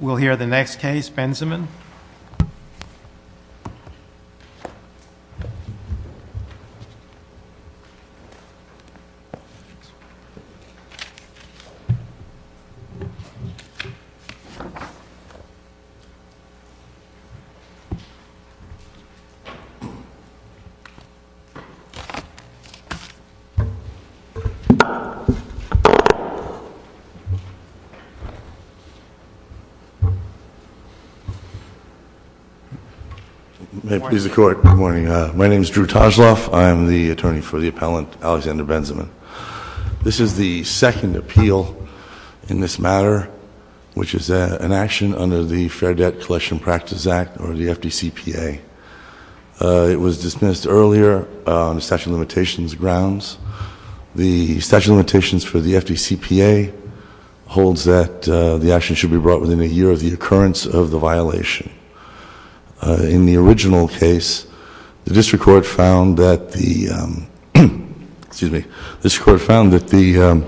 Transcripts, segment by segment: We'll hear the next case, Benzemann. May it please the Court. Good morning. My name is Drew Toshloff. I am the attorney for the appellant, Alexander Benzemann. This is the second appeal in this matter, which is an action under the Fair Debt Collection Practice Act, or the FDCPA. It was dismissed earlier on the statute of limitations grounds. The statute of limitations for the FDCPA holds that the action should be brought within a year of the occurrence of the violation. In the original case, the district court found that the, excuse me, the district court found that the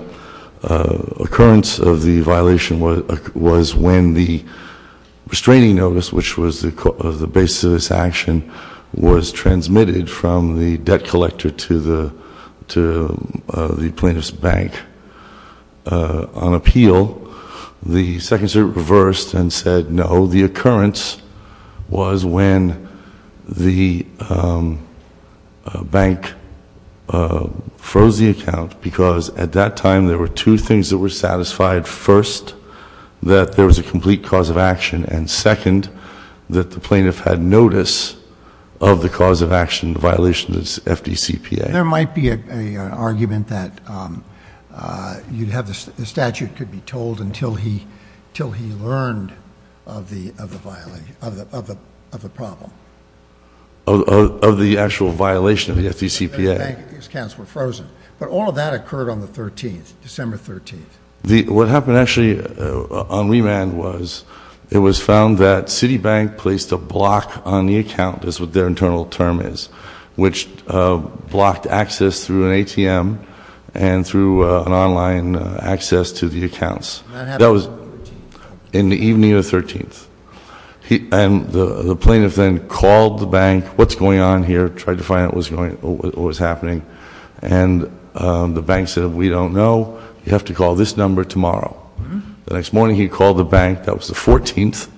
occurrence of the violation was when the restraining notice, which was the basis of this action, was transmitted from the debt collector to the plaintiff's bank. On appeal, the second circuit reversed and said no, the occurrence was when the bank froze the account because at that time there were two things that were satisfied. First, that there was a complete cause of action. And second, that the plaintiff had notice of the cause of action violation of the FDCPA. There might be an argument that the statute could be told until he learned of the problem. Of the actual violation of the FDCPA. The bank accounts were frozen. But all of that occurred on the 13th, December 13th. What happened actually on remand was it was found that Citibank placed a block on the account, is what their internal term is, which blocked access through an ATM and through an online access to the accounts. That was in the evening of the 13th. And the plaintiff then called the bank, what's going on here, tried to find out what was happening. And the bank said, we don't know, you have to call this number tomorrow. The next morning he called the bank, that was the 14th,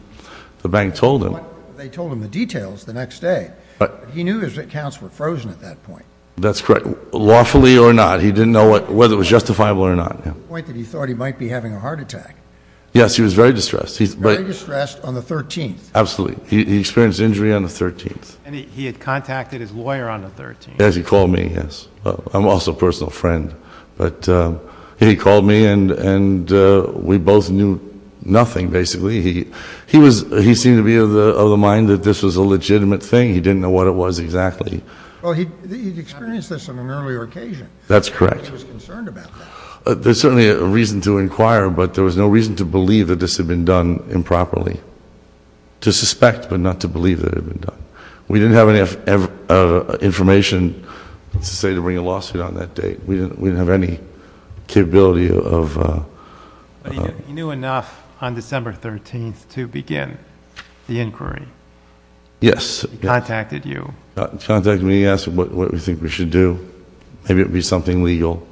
the bank told him. They told him the details the next day. But he knew his accounts were frozen at that point. That's correct. Lawfully or not, he didn't know whether it was justifiable or not. To the point that he thought he might be having a heart attack. Yes, he was very distressed. Very distressed on the 13th. Absolutely. He experienced injury on the 13th. And he had contacted his lawyer on the 13th. Yes, he called me, yes. I'm also a personal friend. But he called me and we both knew nothing, basically. He seemed to be of the mind that this was a legitimate thing. He didn't know what it was exactly. He experienced this on an earlier occasion. That's correct. He was concerned about that. There's certainly a reason to inquire, but there was no reason to believe that this had been done improperly. To suspect, but not to believe that it had been done. We didn't have any information to say to bring a lawsuit on that date. We didn't have any capability of. You knew enough on December 13th to begin the inquiry. Yes. He contacted you. He contacted me. He asked what we think we should do. Maybe it would be something legal.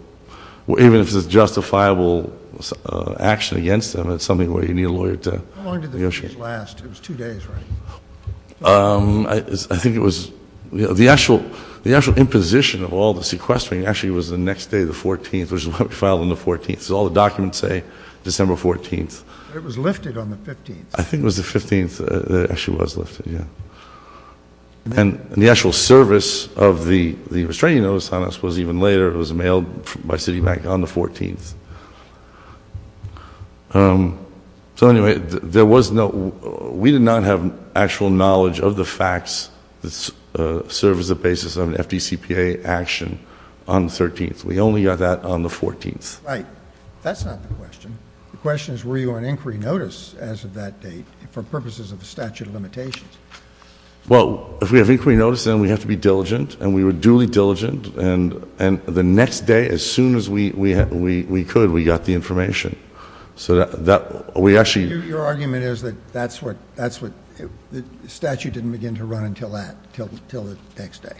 Even if it's justifiable action against him, it's something where you need a lawyer to negotiate. How long did the case last? It was two days, right? I think it was. The actual imposition of all the sequestering actually was the next day, the 14th, which is when we filed on the 14th. That's all the documents say, December 14th. It was lifted on the 15th. I think it was the 15th that it actually was lifted, yeah. And the actual service of the restraining notice on us was even later. It was mailed by Citibank on the 14th. So, anyway, we did not have actual knowledge of the facts that serve as the basis of an FDCPA action on the 13th. We only got that on the 14th. Right. That's not the question. The question is were you on inquiry notice as of that date for purposes of the statute of limitations? Well, if we have inquiry notice, then we have to be diligent, and we were duly diligent. And the next day, as soon as we could, we got the information. So we actually — Your argument is that that's what — the statute didn't begin to run until that, until the next day.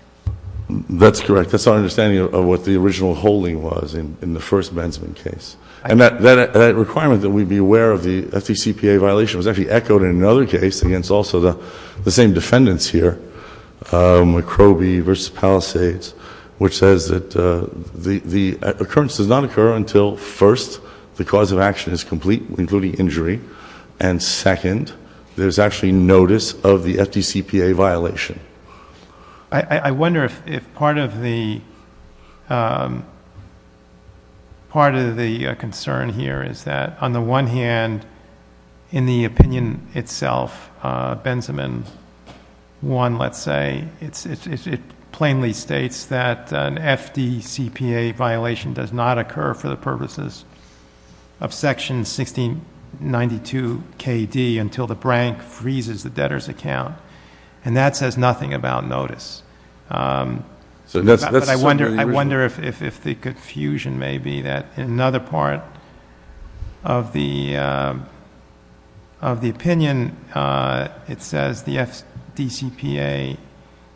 That's correct. That's our understanding of what the original holding was in the first Bensman case. And that requirement that we be aware of the FDCPA violation was actually echoed in another case against also the same defendants here, McCroby v. Palisades, which says that the occurrence does not occur until, first, the cause of action is complete, including injury, and, second, there's actually notice of the FDCPA violation. I wonder if part of the concern here is that, on the one hand, in the opinion itself, Bensman 1, let's say, it plainly states that an FDCPA violation does not occur for the purposes of Section 1692KD until the brank freezes the debtor's account. And that says nothing about notice. But I wonder if the confusion may be that in another part of the opinion, it says the FDCPA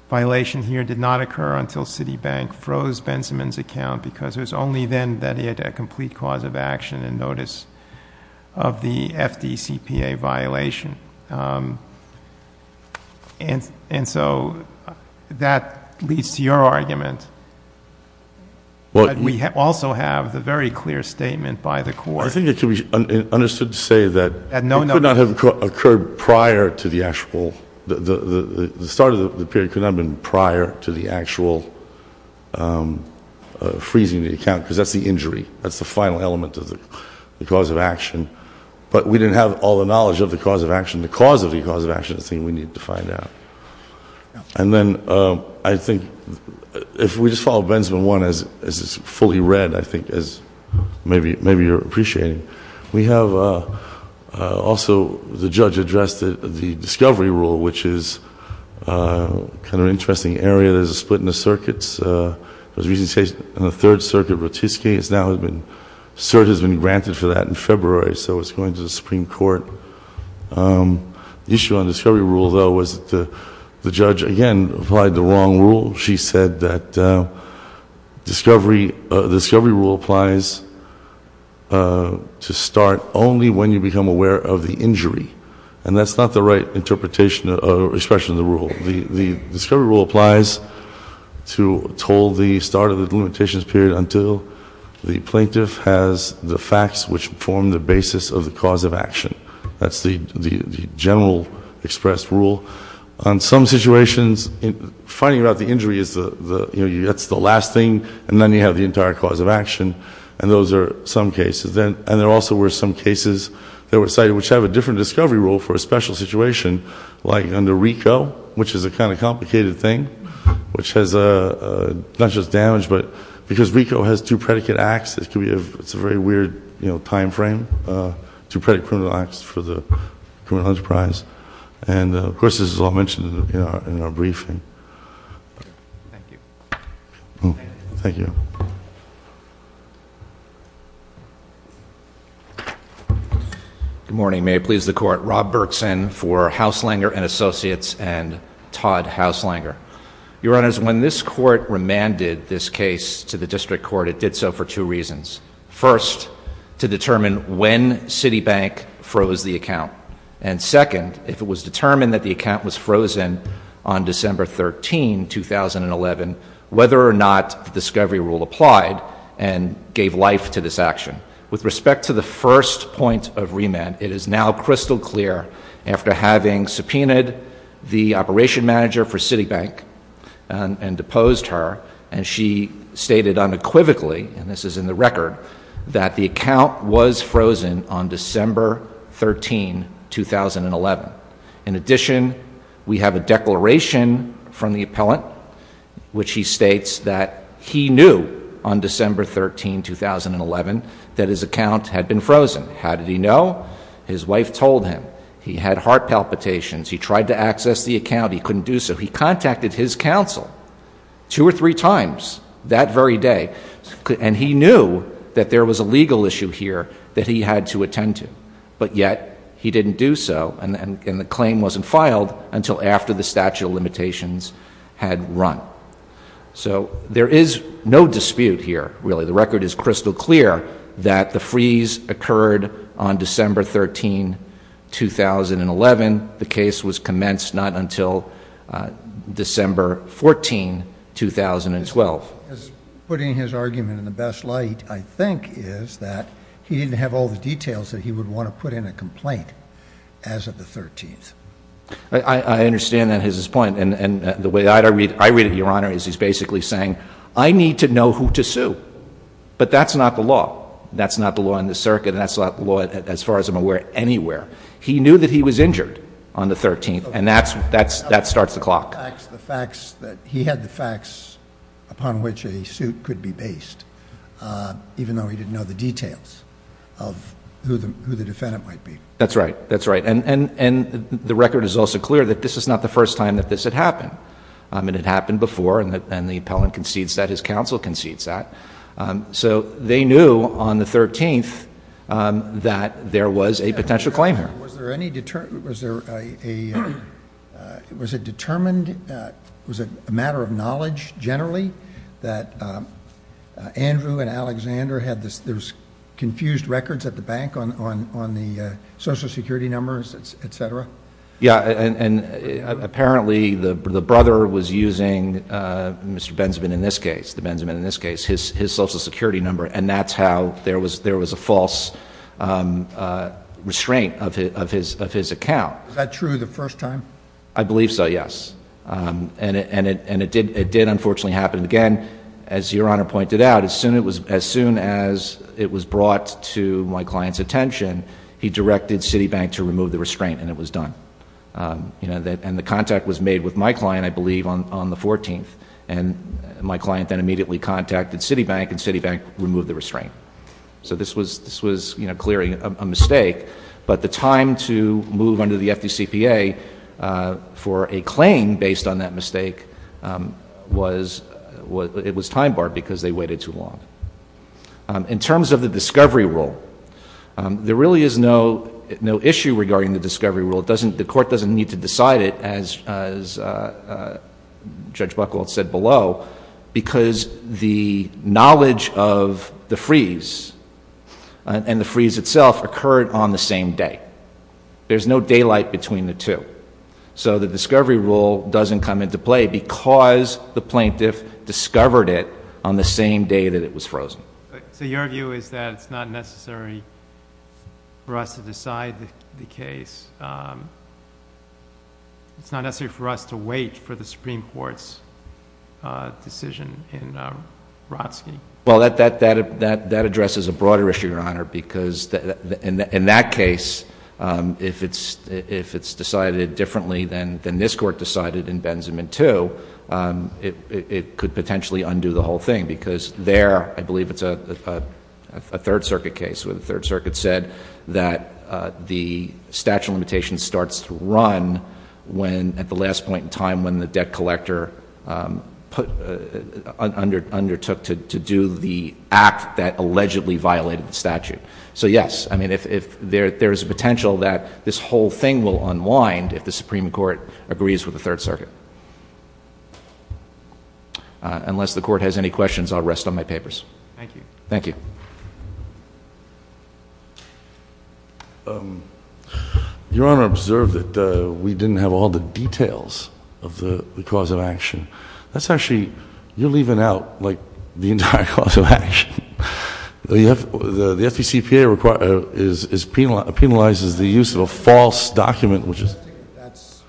violation here did not occur until Citibank froze Bensman's account, because it was only then that he had a complete cause of action and notice of the FDCPA violation. And so that leads to your argument. But we also have the very clear statement by the Court. I think it can be understood to say that it could not have occurred prior to the actual, the start of the period could not have been prior to the actual freezing the account, because that's the injury. That's the final element of the cause of action. But we didn't have all the knowledge of the cause of action. The cause of the cause of action is the thing we need to find out. And then I think if we just follow Bensman 1 as it's fully read, I think as maybe you're appreciating, we have also the judge addressed the discovery rule, which is kind of an interesting area. There's a split in the circuits. There was a recent case in the Third Circuit, Rotisky. It's now been, cert has been granted for that in February, so it's going to the Supreme Court. The issue on the discovery rule, though, was the judge, again, applied the wrong rule. She said that the discovery rule applies to start only when you become aware of the injury. And that's not the right interpretation or expression of the rule. The discovery rule applies to hold the start of the delimitations period until the plaintiff has the facts which form the basis of the cause of action. That's the general expressed rule. On some situations, finding out the injury is the last thing, and then you have the entire cause of action. And those are some cases. And there also were some cases that were cited which have a different discovery rule for a special situation, like under RICO, which is a kind of complicated thing, which has not just damage, but because RICO has two predicate acts, it's a very weird time frame, two predicate criminal acts for the criminal enterprise. And, of course, this is all mentioned in our briefing. Thank you. Thank you. Good morning. May it please the Court. Rob Berkson for Hauslanger & Associates and Todd Hauslanger. Your Honors, when this Court remanded this case to the district court, it did so for two reasons. First, to determine when Citibank froze the account. And second, if it was determined that the account was frozen on December 13, 2011, whether or not the discovery rule applied and gave life to this action. With respect to the first point of remand, it is now crystal clear, after having subpoenaed the operation manager for Citibank and deposed her, and she stated unequivocally, and this is in the record, that the account was frozen on December 13, 2011. In addition, we have a declaration from the appellant, which he states that he knew on December 13, 2011, that his account had been frozen. How did he know? His wife told him. He had heart palpitations. He tried to access the account. He couldn't do so. He contacted his counsel two or three times that very day, and he knew that there was a legal issue here that he had to attend to. But yet he didn't do so, and the claim wasn't filed until after the statute of limitations had run. So there is no dispute here, really. The record is crystal clear that the freeze occurred on December 13, 2011. The case was commenced not until December 14, 2012. What is putting his argument in the best light, I think, is that he didn't have all the details that he would want to put in a complaint as of the 13th. I understand that is his point, and the way I read it, Your Honor, is he's basically saying, I need to know who to sue, but that's not the law. That's not the law in this circuit, and that's not the law, as far as I'm aware, anywhere. He knew that he was injured on the 13th, and that starts the clock. He had the facts upon which a suit could be based, even though he didn't know the details of who the defendant might be. That's right. That's right. And the record is also clear that this is not the first time that this had happened. It had happened before, and the appellant concedes that. His counsel concedes that. So they knew on the 13th that there was a potential claim here. Was there any determination, was there a, was it determined, was it a matter of knowledge generally that Andrew and Alexander had this, there's confused records at the bank on the Social Security numbers, et cetera? Yeah, and apparently the brother was using Mr. Benzeman in this case, the Benzeman in this case, his Social Security number, and that's how there was a false restraint of his account. Is that true the first time? I believe so, yes. And it did, unfortunately, happen again. As Your Honor pointed out, as soon as it was brought to my client's attention, he directed Citibank to remove the restraint, and it was done. And the contact was made with my client, I believe, on the 14th, and my client then immediately contacted Citibank, and Citibank removed the restraint. So this was, you know, clearly a mistake, but the time to move under the FDCPA for a claim based on that mistake was, it was time barred because they waited too long. In terms of the discovery rule, there really is no issue regarding the discovery rule. The court doesn't need to decide it, as Judge Buckle had said below, because the knowledge of the freeze and the freeze itself occurred on the same day. There's no daylight between the two. So the discovery rule doesn't come into play because the plaintiff discovered it on the same day that it was frozen. So your view is that it's not necessary for us to decide the case? It's not necessary for us to wait for the Supreme Court's decision in Wrotsky? Well, that addresses a broader issue, Your Honor, because in that case, if it's decided differently than this Court decided in Benjamin II, it could potentially undo the whole thing because there I believe it's a Third Circuit case where the Third Circuit said that the statute of limitations starts to run at the last point in time when the debt collector undertook to do the act that allegedly violated the statute. So, yes, I mean, there is a potential that this whole thing will unwind if the Supreme Court agrees with the Third Circuit. Unless the Court has any questions, I'll rest on my papers. Thank you. Thank you. Your Honor observed that we didn't have all the details of the cause of action. That's actually, you're leaving out, like, the entire cause of action. The FDCPA penalizes the use of a false document, which is... I think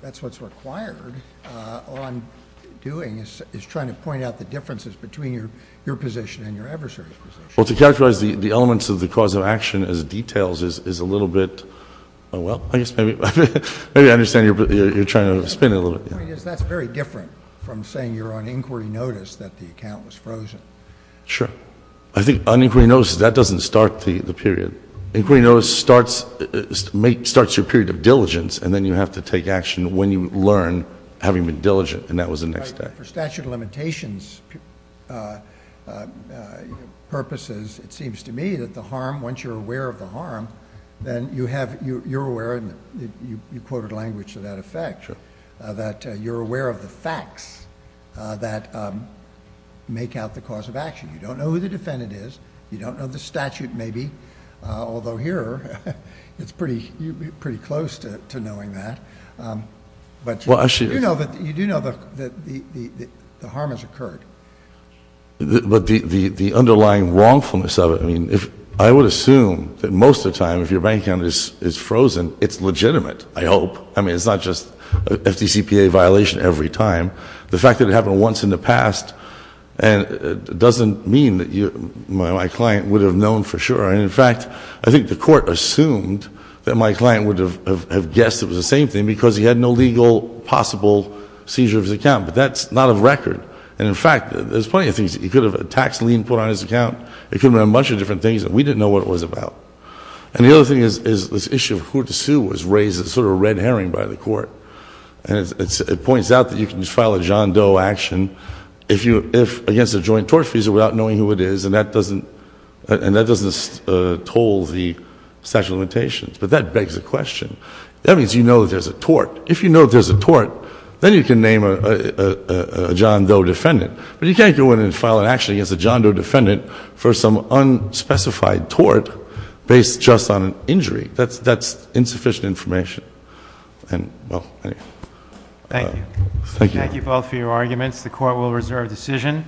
that's what's required on doing is trying to point out the differences between your position and your adversary's position. Well, to characterize the elements of the cause of action as details is a little bit, well, I guess maybe I understand you're trying to spin it a little bit. The point is that's very different from saying you're on inquiry notice that the account was frozen. Sure. I think on inquiry notice, that doesn't start the period. Inquiry notice starts your period of diligence, and then you have to take action when you learn having been diligent, and that was the next step. For statute of limitations purposes, it seems to me that the harm, once you're aware of the harm, then you're aware, and you quoted language to that effect, that you're aware of the facts that make out the cause of action. You don't know who the defendant is. You don't know the statute, maybe, although here it's pretty close to knowing that. But you do know that the harm has occurred. But the underlying wrongfulness of it, I mean, I would assume that most of the time if your bank account is frozen, it's legitimate, I hope. I mean, it's not just an FDCPA violation every time. The fact that it happened once in the past doesn't mean that my client would have known for sure. And, in fact, I think the court assumed that my client would have guessed it was the same thing because he had no legal possible seizure of his account, but that's not a record. And, in fact, there's plenty of things. He could have a tax lien put on his account. It could have been a bunch of different things that we didn't know what it was about. And the other thing is this issue of who to sue was raised as sort of a red herring by the court. And it points out that you can file a John Doe action against a joint tort fee without knowing who it is, and that doesn't toll the statute of limitations. But that begs the question. That means you know there's a tort. If you know there's a tort, then you can name a John Doe defendant. But you can't go in and file an action against a John Doe defendant for some unspecified tort based just on an injury. That's insufficient information. And, well, anyway. Thank you. Thank you. Thank you both for your arguments. The court will reserve decision.